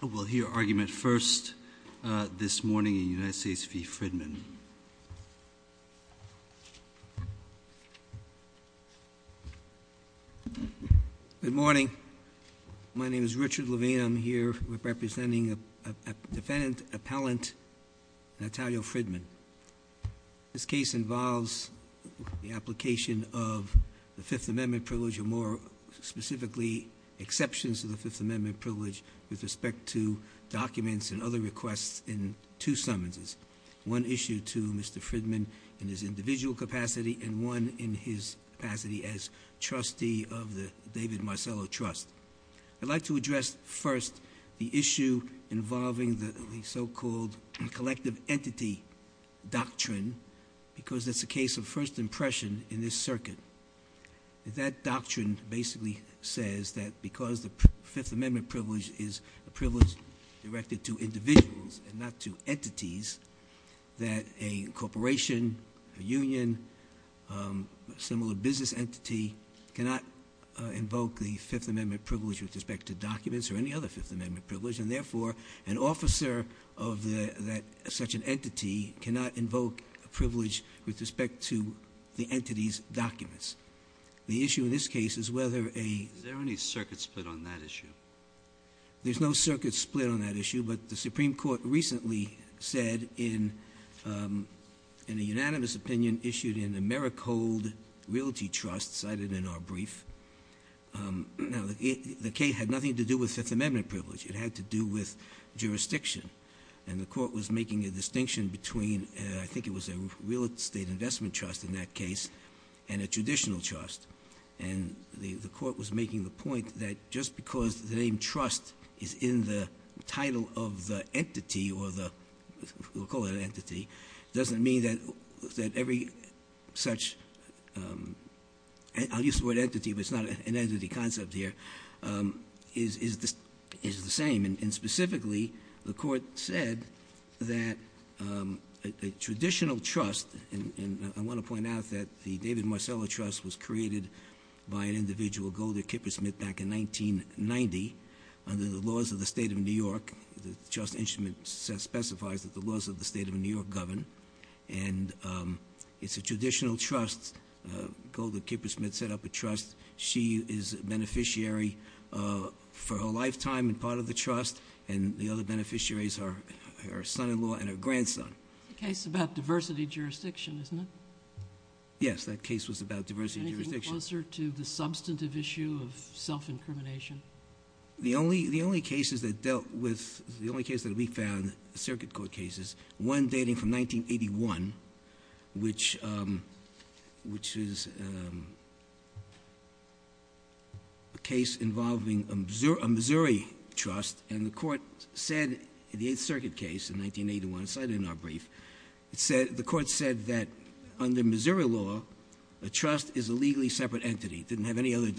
Good morning. My name is Richard Levine. I'm here representing defendant appellant Natalio Fridman. This case involves the application of the Fifth Amendment privilege or more specifically exceptions to the Fifth Amendment privilege with respect to documents and other requests in two summonses. One issue to Mr. Fridman in his individual capacity and one in his capacity as trustee of the David Marcello Trust. I'd like to address first the issue involving the so-called collective entity doctrine because it's a case of first impression in this circuit. That doctrine basically says that because the Fifth Amendment privilege is a privilege directed to individuals and not to entities that a corporation, a union, similar business entity cannot invoke the Fifth Amendment privilege with respect to documents or any other Fifth Amendment privilege and therefore an officer of that such an entity cannot invoke a privilege with respect to the entity's documents. The issue in this case is whether a... Is there any circuit split on that issue? There's no circuit split on that issue, but the Supreme Court recently said in a unanimous opinion issued in the Merrick Hold Realty Trust cited in our brief. Now the case had nothing to do with Fifth Amendment privilege. It had to do with jurisdiction and the court was making a distinction between, I think it was a real estate investment trust in that case and a traditional trust and the court was making the point that just because the name trust is in the title of the entity or the... We'll call it an entity, doesn't mean that every such... I'll use the word entity but it's not an entity concept here, is the same and specifically the court said that a traditional trust and I want to point out that the David Marcello Trust was created by an individual, Golda Kippersmith back in 1990 under the laws of the state of New York. The trust instrument specifies that the laws of the state of New York govern and it's a traditional trust. Golda Kippersmith set up a trust. She is a beneficiary for a lifetime and part of the trust and the other beneficiaries are her son-in-law and her grandson. It's a case about diversity jurisdiction, isn't it? Yes, that case was about diversity jurisdiction. Anything closer to the substantive issue of self-incrimination? The only cases that dealt with... The only case that we found, circuit court cases, one dating from 1981 which is a case involving a Missouri trust and the court said in the 8th Circuit case in 1981, cited in our brief, the court said that under Missouri law, a trust is a legally separate entity, didn't have any other issue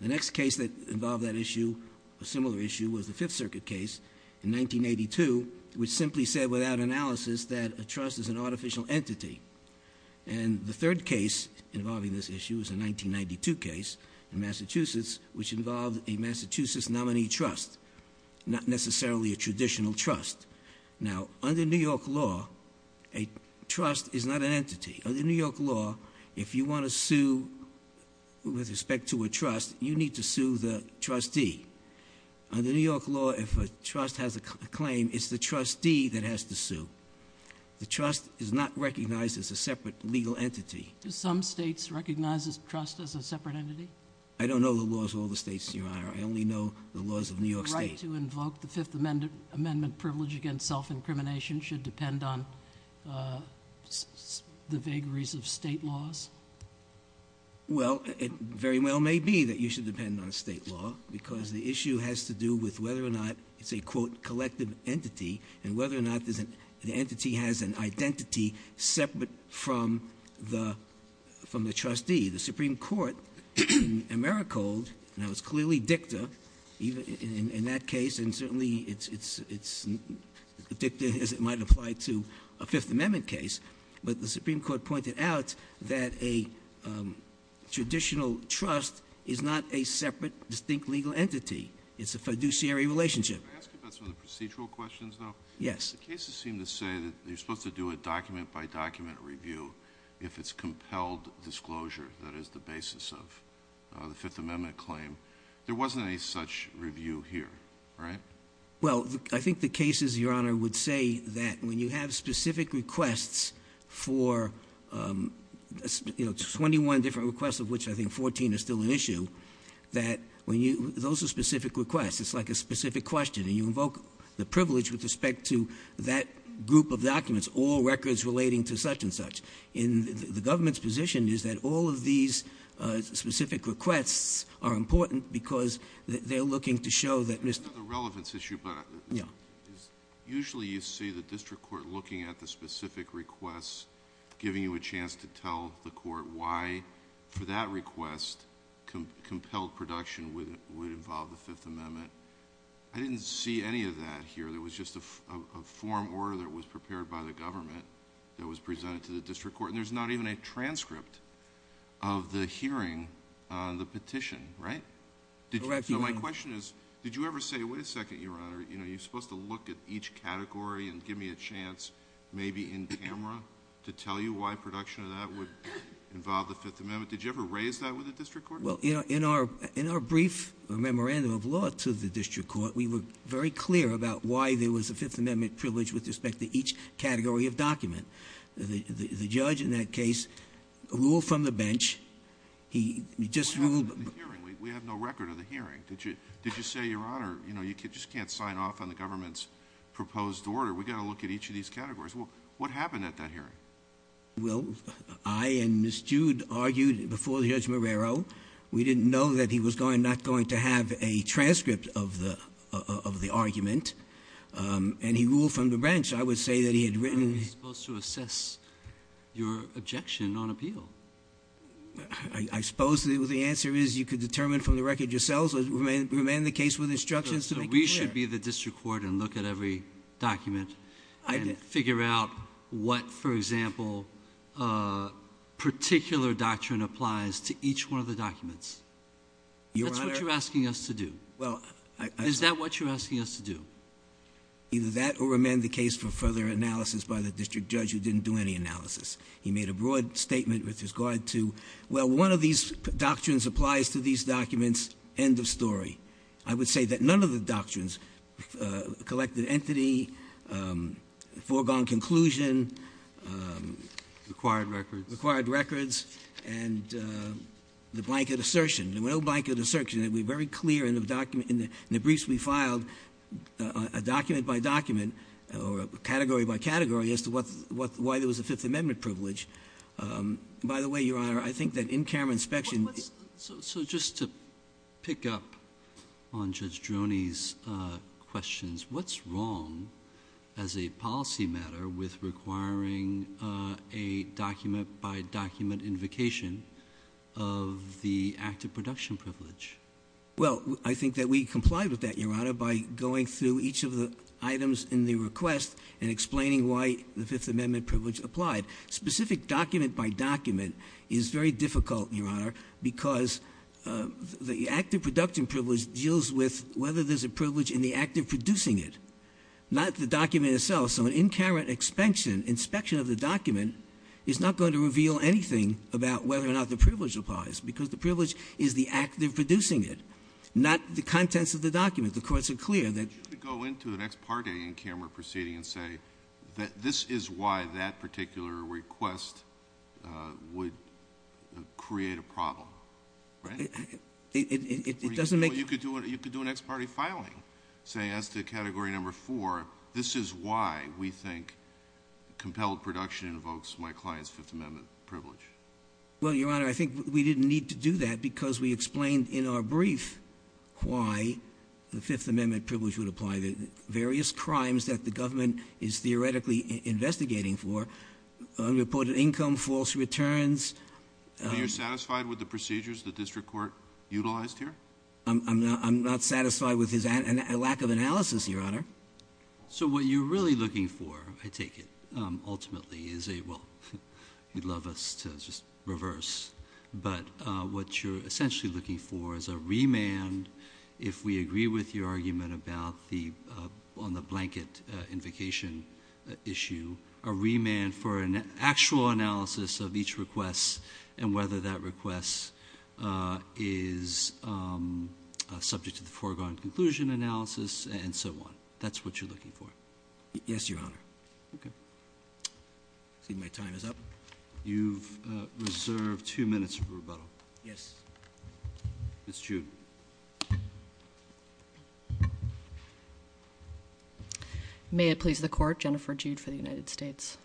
with the 5th Circuit case in 1982 which simply said without analysis that a trust is an artificial entity. And the third case involving this issue is a 1992 case in Massachusetts which involved a Massachusetts nominee trust, not necessarily a traditional trust. Now under New York law, a trust is not an entity. Under New York law, if you want to sue with respect to a trust, you need to sue the trustee. Under New York law, if a trust has a claim, it's the trustee that has to sue. The trust is not recognized as a separate legal entity. Do some states recognize this trust as a separate entity? I don't know the laws of all the states, Your Honor. I only know the laws of New York state. The right to invoke the Fifth Amendment privilege against self-incrimination should depend on the vagaries of state laws? Well, it very well may be that you should depend on state law because the issue has to do with whether or not it's a quote, collective entity, and whether or not the entity has an identity separate from the trustee. The Supreme Court in AmeriCorps, now it's clearly dicta in that case and certainly it's dicta as it might apply to a Fifth Amendment claim. But the Supreme Court pointed out that a traditional trust is not a separate, distinct legal entity. It's a fiduciary relationship. Can I ask you about some of the procedural questions, though? Yes. The cases seem to say that you're supposed to do a document-by-document review if it's compelled disclosure. That is the basis of the Fifth Amendment claim. There wasn't any such review here, right? Well, I think the cases, Your Honor, would say that when you have specific requests for 21 different requests, of which I think 14 are still an issue, that those are specific requests, it's like a specific question. And you invoke the privilege with respect to that group of documents, all records relating to such and such. And the government's position is that all of these specific requests are important because they're looking to show that- I don't know the relevance issue, but usually you see the district court looking at the specific requests, giving you a chance to tell the court why, for that request, compelled production would involve the Fifth Amendment. I didn't see any of that here. There was just a form order that was prepared by the government that was presented to the district court. And there's not even a transcript of the hearing, the petition, right? Correct, Your Honor. So my question is, did you ever say, wait a second, Your Honor, you're supposed to look at each category and give me a chance, maybe in camera, to tell you why production of that would involve the Fifth Amendment? Did you ever raise that with the district court? Well, in our brief memorandum of law to the district court, we were very clear about why there was a Fifth Amendment privilege with respect to each category of document. The judge in that case ruled from the bench. He just ruled- We have no record of the hearing. Did you say, Your Honor, you just can't sign off on the government's proposed order. We've got to look at each of these categories. What happened at that hearing? Well, I and Ms. Jude argued before Judge Marrero. We didn't know that he was not going to have a transcript of the argument. And he ruled from the bench. I would say that he had written- You're supposed to assess your objection on appeal. I suppose the answer is you could determine from the record yourselves, or remain in the case with instructions to make it clear. So we should be the district court and look at every document and figure out what, for example, particular doctrine applies to each one of the documents. That's what you're asking us to do. Is that what you're asking us to do? Either that or remain the case for further analysis by the district judge who didn't do any analysis. He made a broad statement with regard to, well, one of these doctrines applies to these documents, end of story. I would say that none of the doctrines, collected entity, foregone conclusion. Required records. Required records, and the blanket assertion. No blanket assertion. It would be very clear in the briefs we filed, a document by document, or category by category, as to why there was a Fifth Amendment privilege. By the way, Your Honor, I think that in-camera inspection- So just to pick up on Judge Droney's questions, what's wrong as a policy matter with requiring a document by document invocation of the active production privilege? Well, I think that we comply with that, Your Honor, by going through each of the items in the request and explaining why the Fifth Amendment privilege applied. Specific document by document is very difficult, Your Honor, because the active production privilege deals with whether there's a privilege in the act of producing it. Not the document itself. So an in-camera inspection of the document is not going to reveal anything about whether or not there's a privilege in producing it, not the contents of the document. The courts are clear that- You could go into an ex-parte in-camera proceeding and say that this is why that particular request would create a problem, right? It doesn't make- You could do an ex-parte filing, saying as to category number four, this is why we think compelled production invokes my client's Fifth Amendment privilege. Well, Your Honor, I think we didn't need to do that because we explained in our brief why the Fifth Amendment privilege would apply. Various crimes that the government is theoretically investigating for, unreported income, false returns. Are you satisfied with the procedures the district court utilized here? I'm not satisfied with his lack of analysis, Your Honor. So what you're really looking for, I take it, ultimately is a, well, you'd love us to just reverse. But what you're essentially looking for is a remand. If we agree with your argument about the, on the blanket invocation issue, a remand for an actual analysis of each request and whether that request is subject to the foregone conclusion analysis and so on. That's what you're looking for. Yes, Your Honor. Okay. I see my time is up. You've reserved two minutes for rebuttal. Yes. Ms. Jude. May it please the court, Jennifer Jude for the United States.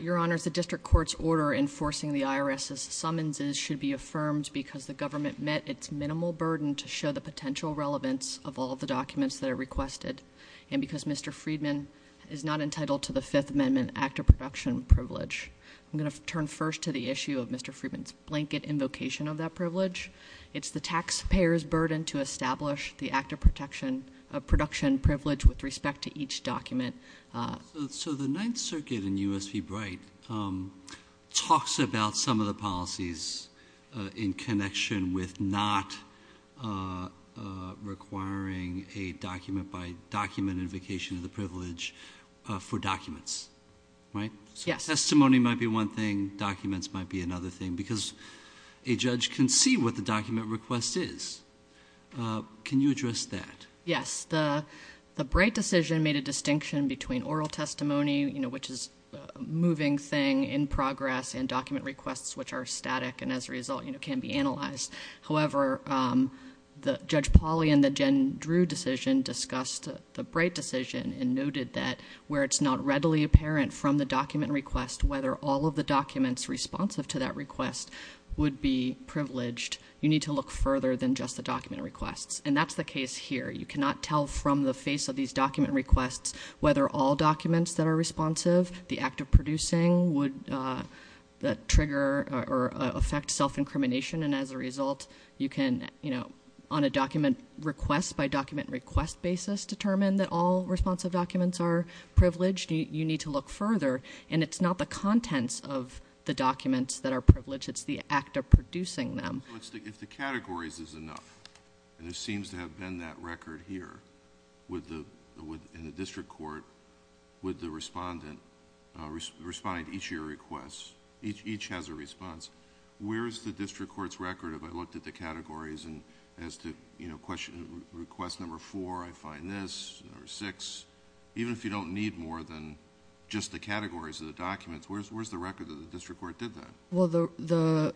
Your Honor, the district court's order enforcing the IRS's summonses should be affirmed because the government met its minimal burden to show the potential relevance of all the documents that are requested. And because Mr. Friedman is not entitled to the Fifth Amendment act of production privilege. I'm going to turn first to the issue of Mr. Friedman's blanket invocation of that privilege. It's the taxpayer's burden to establish the act of production privilege with respect to each document. So the Ninth Circuit in U.S. v. Bright talks about some of the policies in connection with not requiring a document by document invocation of the privilege for documents, right? Yes. Testimony might be one thing, documents might be another thing, because a judge can see what the document request is. Can you address that? Yes, the Bright decision made a distinction between oral testimony, which is a moving thing in progress, and document requests, which are static and as a result can be analyzed. However, Judge Polly in the Jen Drew decision discussed the Bright decision and noted that where it's not readily apparent from the document request whether all of the documents responsive to that request would be privileged, you need to look further than just the document requests. And that's the case here. You cannot tell from the face of these document requests whether all documents that are responsive, the act of producing would trigger or affect self-incrimination. And as a result, you can, on a document request by document request basis, determine that all responsive documents are privileged, you need to look further. And it's not the contents of the documents that are privileged, it's the act of producing them. If the categories is enough, and there seems to have been that record here, would the district court, would the respondent respond to each of your requests? Each has a response. Where's the district court's record if I looked at the categories and as to request number four, I find this, or six. Even if you don't need more than just the categories of the documents, where's the record that the district court did that? Well, the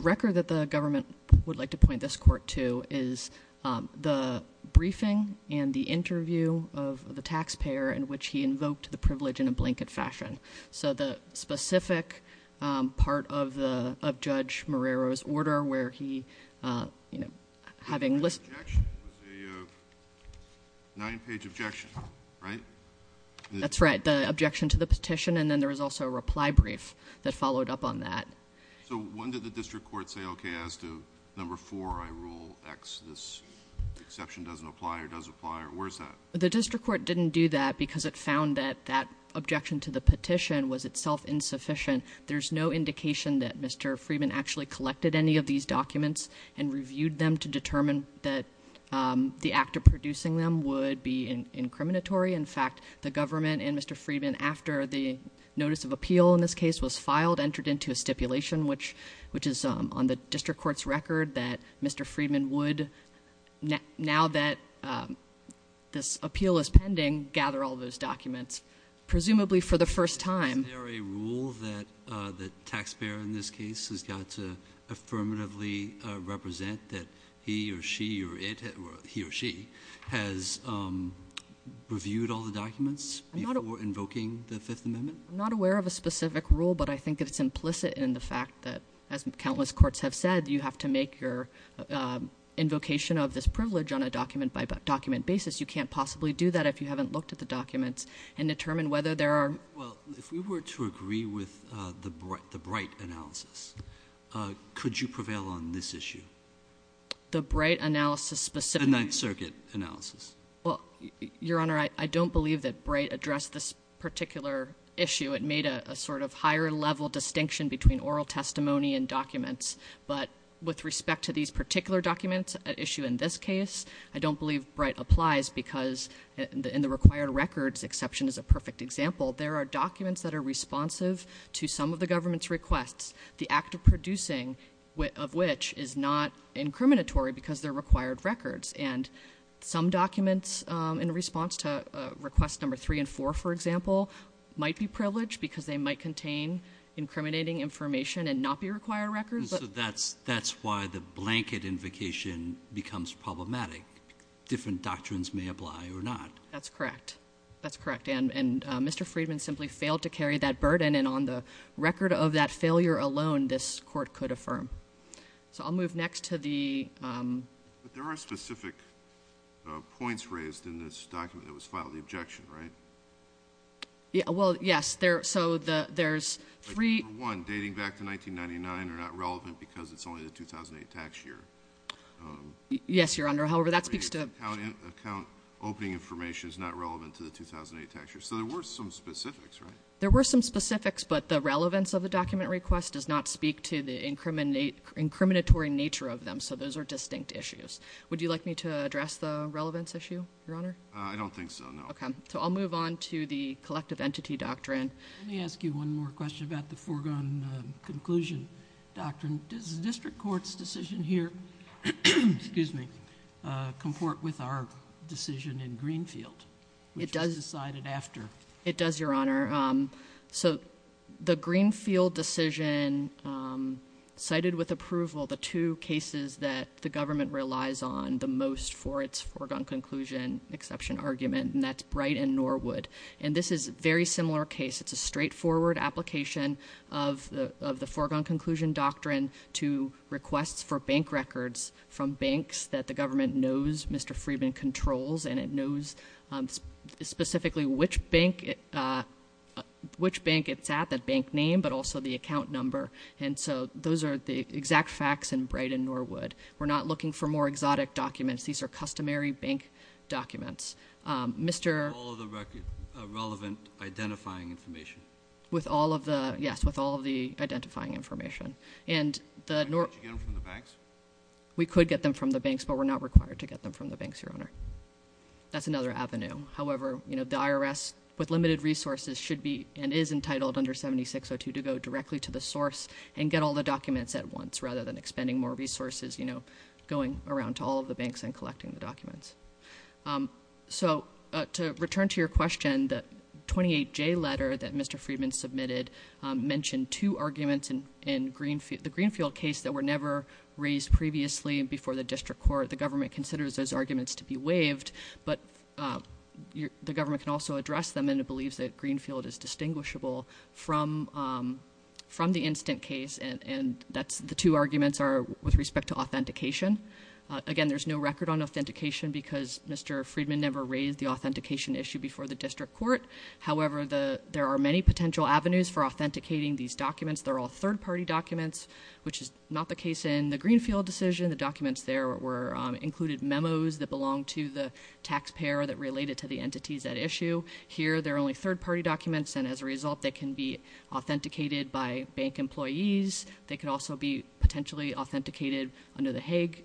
record that the government would like to point this court to is the briefing and the interview of the tax payer in which he invoked the privilege in a blanket fashion. So the specific part of Judge Morero's order where he, having list- The objection was a nine page objection, right? That's right, the objection to the petition, and then there was also a reply brief that followed up on that. So when did the district court say, okay, as to number four, I rule X, this exception doesn't apply or does apply, or where's that? The district court didn't do that because it found that that objection to the petition was itself insufficient. There's no indication that Mr. Freeman actually collected any of these documents and reviewed them to determine that the act of producing them would be incriminatory. In fact, the government and Mr. Freeman, after the notice of appeal in this case was filed, entered into a stipulation which is on the district court's record that Mr. Freeman would, now that this appeal is pending, gather all those documents, presumably for the first time. Is there a rule that the tax payer in this case has got to affirmatively represent that he or she or it, or he or she, has reviewed all the documents before invoking the Fifth Amendment? I'm not aware of a specific rule, but I think it's implicit in the fact that, as countless courts have said, you have to make your invocation of this privilege on a document-by-document basis. You can't possibly do that if you haven't looked at the documents and determined whether there are- Well, if we were to agree with the Bright analysis, could you prevail on this issue? The Bright analysis specifically- The Ninth Circuit analysis. Well, Your Honor, I don't believe that Bright addressed this particular issue. It made a sort of higher level distinction between oral testimony and documents. But with respect to these particular documents, an issue in this case, I don't believe Bright applies because in the required records, exception is a perfect example, there are documents that are responsive to some of the government's requests. The act of producing of which is not incriminatory because they're required records. And some documents in response to request number three and four, for example, might be privileged because they might contain incriminating information and not be required records, but- That's why the blanket invocation becomes problematic. Different doctrines may apply or not. That's correct. That's correct, and Mr. Friedman simply failed to carry that burden. And on the record of that failure alone, this court could affirm. So I'll move next to the- But there are specific points raised in this document that was filed, the objection, right? Yeah, well, yes, so there's three- One, dating back to 1999 are not relevant because it's only the 2008 tax year. Yes, Your Honor, however, that speaks to- Account opening information is not relevant to the 2008 tax year. So there were some specifics, right? There were some specifics, but the relevance of the document request does not speak to the incriminatory nature of them. So those are distinct issues. Would you like me to address the relevance issue, Your Honor? I don't think so, no. Okay, so I'll move on to the collective entity doctrine. Let me ask you one more question about the foregone conclusion doctrine. Does the district court's decision here, excuse me, comport with our decision in Greenfield? It does. Which was decided after. It does, Your Honor. So the Greenfield decision, cited with approval, the two cases that the government relies on the most for its foregone conclusion exception argument, and that's Bright and Norwood. And this is a very similar case. It's a straightforward application of the foregone conclusion doctrine to requests for bank records from banks that the government knows Mr. Freeman controls. And it knows specifically which bank it's at, that bank name, but also the account number. And so those are the exact facts in Bright and Norwood. We're not looking for more exotic documents. These are customary bank documents. Mr- With all of the relevant identifying information. With all of the, yes, with all of the identifying information. And the- Could you get them from the banks? We could get them from the banks, but we're not required to get them from the banks, Your Honor. That's another avenue. However, the IRS, with limited resources, should be and is entitled under 7602 to go directly to the source and get all the documents at once rather than expending more resources going around to all of the banks and collecting the documents. So to return to your question, the 28J letter that Mr. The Greenfield case that were never raised previously before the district court, the government considers those arguments to be waived. But the government can also address them, and it believes that Greenfield is distinguishable from the instant case. And the two arguments are with respect to authentication. Again, there's no record on authentication because Mr. Freedman never raised the authentication issue before the district court. However, there are many potential avenues for authenticating these documents. They're all third party documents, which is not the case in the Greenfield decision. The documents there were included memos that belonged to the taxpayer that related to the entities at issue. Here, they're only third party documents, and as a result, they can be authenticated by bank employees. They can also be potentially authenticated under the Hague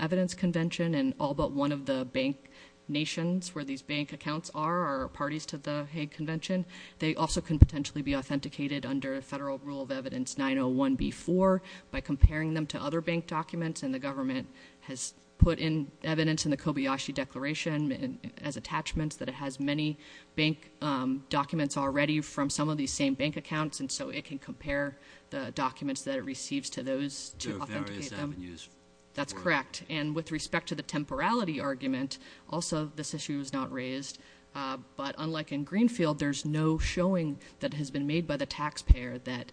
Evidence Convention. And all but one of the bank nations where these bank accounts are are parties to the Hague Convention. They also can potentially be authenticated under Federal Rule of Evidence 901B4 by comparing them to other bank documents. And the government has put in evidence in the Kobayashi Declaration as attachments that it has many bank documents already from some of these same bank accounts, and so it can compare the documents that it receives to those to authenticate them. There are various avenues for it. That's correct, and with respect to the temporality argument, also this issue was not raised. But unlike in Greenfield, there's no showing that has been made by the taxpayer that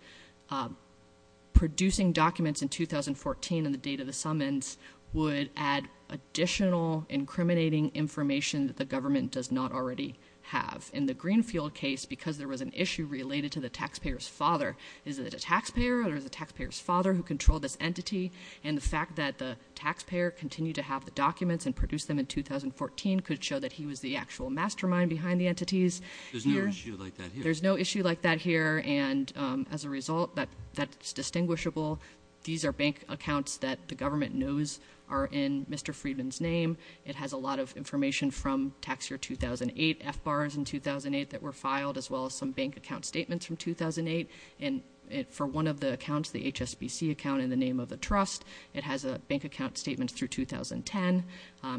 producing documents in 2014 in the date of the summons would add additional incriminating information that the government does not already have. In the Greenfield case, because there was an issue related to the taxpayer's father. Is it a taxpayer or is it the taxpayer's father who controlled this entity? And the fact that the taxpayer continued to have the documents and produced them in 2014 could show that he was the actual mastermind behind the entities. There's no issue like that here. There's no issue like that here, and as a result, that's distinguishable. These are bank accounts that the government knows are in Mr. Friedman's name. It has a lot of information from tax year 2008, FBARs in 2008 that were filed, as well as some bank account statements from 2008. And for one of the accounts, the HSBC account in the name of the trust, it has a bank account statement through 2010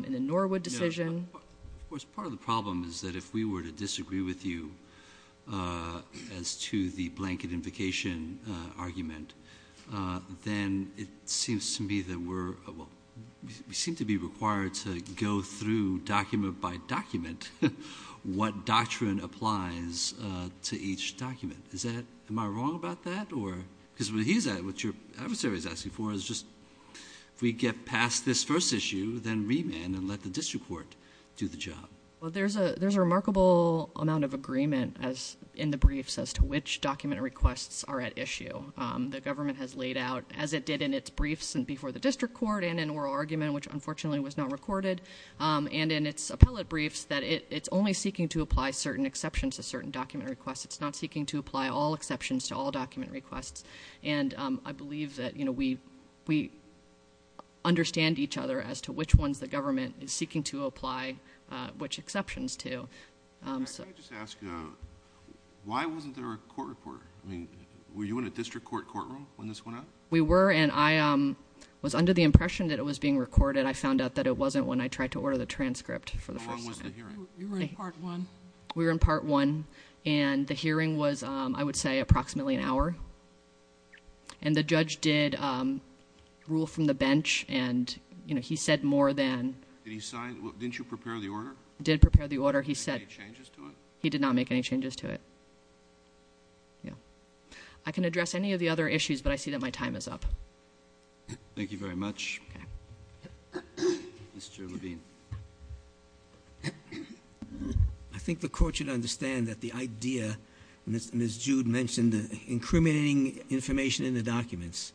in the Norwood decision. Of course, part of the problem is that if we were to disagree with you as to the blanket invocation argument. Then it seems to me that we're, well, we seem to be required to go through document by document. What doctrine applies to each document? Am I wrong about that? Because what your adversary is asking for is just, if we get past this first issue, then remand and let the district court do the job. Well, there's a remarkable amount of agreement in the briefs as to which document requests are at issue. The government has laid out, as it did in its briefs before the district court and in oral argument, which unfortunately was not recorded. And in its appellate briefs, that it's only seeking to apply certain exceptions to certain document requests. It's not seeking to apply all exceptions to all document requests. And I believe that we understand each other as to which ones the government is seeking to apply which exceptions to. So- Can I just ask, why wasn't there a court report? I mean, were you in a district court courtroom when this went out? We were, and I was under the impression that it was being recorded. I found out that it wasn't when I tried to order the transcript for the first time. How long was the hearing? You were in part one. And the hearing was, I would say, approximately an hour. And the judge did rule from the bench and he said more than- Did he sign? Didn't you prepare the order? Did prepare the order. He said- Did he make any changes to it? He did not make any changes to it. Yeah. I can address any of the other issues, but I see that my time is up. Thank you very much. Mr. Levine. I think the court should understand that the idea, as Ms. Jude mentioned, incriminating information in the documents.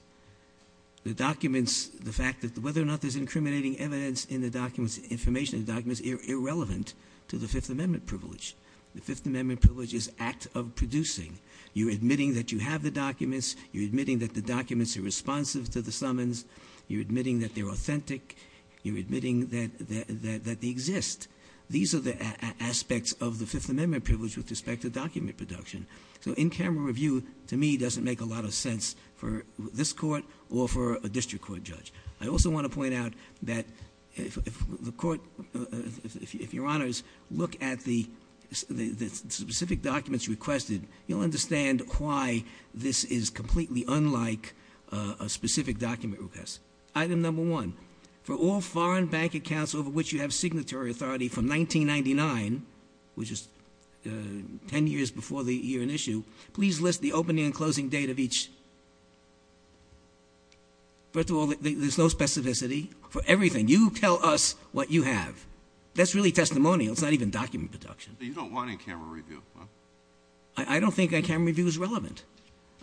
The documents, the fact that whether or not there's incriminating evidence in the documents, information in the documents, irrelevant to the Fifth Amendment privilege. The Fifth Amendment privilege is act of producing. You're admitting that you have the documents. You're admitting that the documents are responsive to the summons. You're admitting that they're authentic. You're admitting that they exist. These are the aspects of the Fifth Amendment privilege with respect to document production. So in camera review, to me, doesn't make a lot of sense for this court or for a district court judge. I also want to point out that if the court, if your honors, look at the specific documents requested, you'll understand why this is completely unlike a specific document request. Item number one, for all foreign bank accounts over which you have signatory authority from 1999, which is ten years before the year in issue, please list the opening and closing date of each. First of all, there's no specificity for everything. You tell us what you have. That's really testimonial. It's not even document production. But you don't want any camera review, huh? I don't think that camera review is relevant.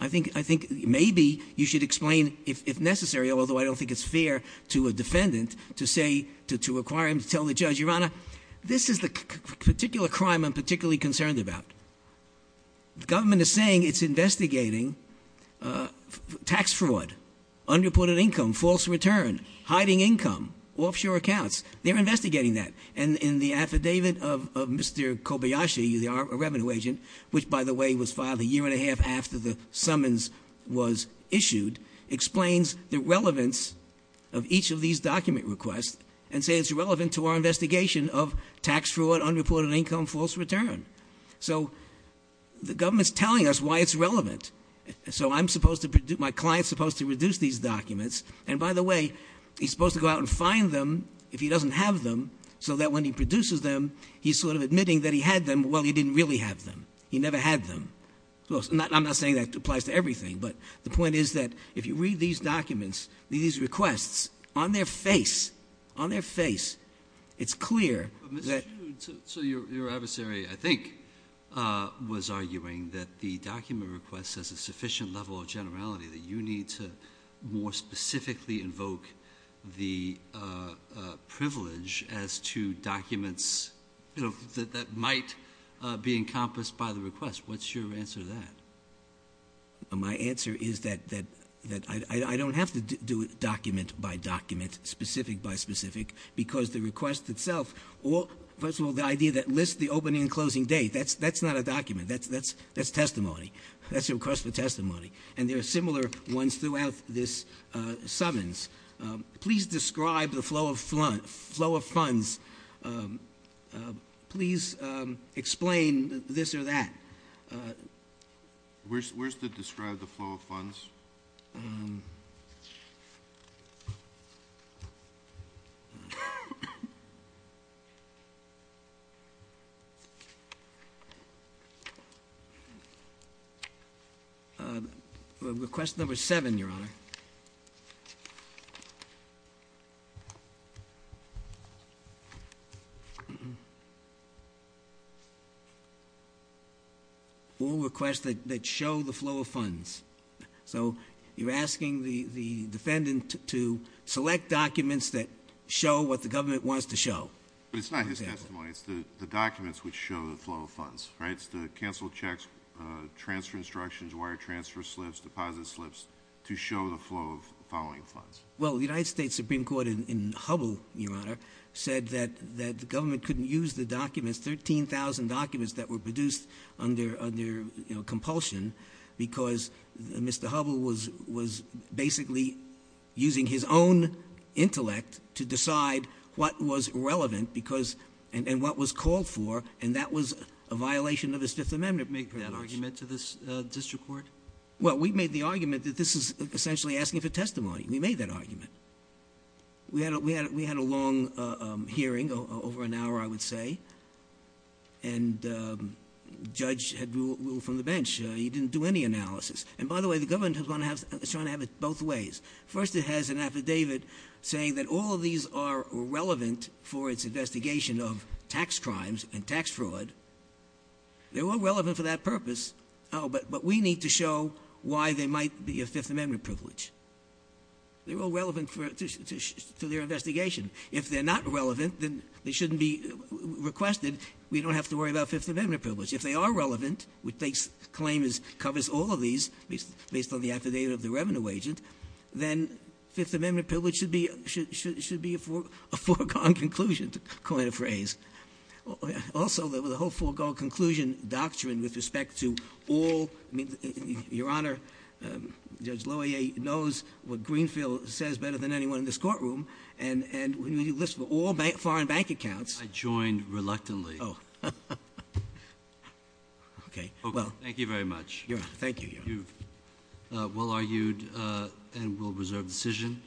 I think maybe you should explain, if necessary, although I don't think it's fair to a defendant, to say, to require him to tell the judge, your honor, this is the particular crime I'm particularly concerned about. The government is saying it's investigating tax fraud, unreported income, false return, hiding income, offshore accounts. They're investigating that. And in the affidavit of Mr. Kobayashi, a revenue agent, which by the way was filed a year and a half after the summons was issued, explains the relevance of each of these document requests and say it's relevant to our investigation of tax fraud, unreported income, false return. So the government's telling us why it's relevant. So my client's supposed to reduce these documents. And by the way, he's supposed to go out and find them if he doesn't have them, so that when he produces them, he's sort of admitting that he had them, while he didn't really have them. He never had them. Well, I'm not saying that applies to everything, but the point is that if you read these documents, these requests, on their face, on their face, it's clear that- So your adversary, I think, was arguing that the document request has a sufficient level of generality, that you need to more specifically invoke the privilege as to documents that might be encompassed by the request. What's your answer to that? My answer is that I don't have to do it document by document, specific by specific, because the request itself, or first of all, the idea that lists the opening and closing date. That's not a document, that's testimony. That's a request for testimony. And there are similar ones throughout this summons. Please describe the flow of funds. Please explain this or that. Where's the describe the flow of funds? Request number seven, your honor. All requests that show the flow of funds. So you're asking the defendant to select documents that show what the government wants to show. But it's not his testimony, it's the documents which show the flow of funds, right? It's the canceled checks, transfer instructions, wire transfer slips, deposit slips to show the flow of following funds. Well, the United States Supreme Court in Hubble, your honor, said that the government couldn't use the documents, 13,000 documents that were produced under compulsion. Because Mr. Hubble was basically using his own intellect to decide what was relevant and what was called for. And that was a violation of his Fifth Amendment. Did you make that argument to the district court? Well, we made the argument that this is essentially asking for testimony. We made that argument. We had a long hearing, over an hour I would say. And judge had rule from the bench. He didn't do any analysis. And by the way, the government is trying to have it both ways. First it has an affidavit saying that all of these are relevant for its investigation of tax crimes and tax fraud. They're all relevant for that purpose, but we need to show why they might be a Fifth Amendment privilege. They're all relevant to their investigation. If they're not relevant, then they shouldn't be requested. We don't have to worry about Fifth Amendment privilege. If they are relevant, which they claim covers all of these, based on the affidavit of the revenue agent, then Fifth Amendment privilege should be a foregone conclusion, to coin a phrase. Also, the whole foregone conclusion doctrine with respect to all, your honor, Judge Loyer knows what Greenfield says better than anyone in this courtroom. And when you list all foreign bank accounts- Okay, well- Thank you very much. Yeah, thank you, yeah. We'll argue and we'll reserve decision.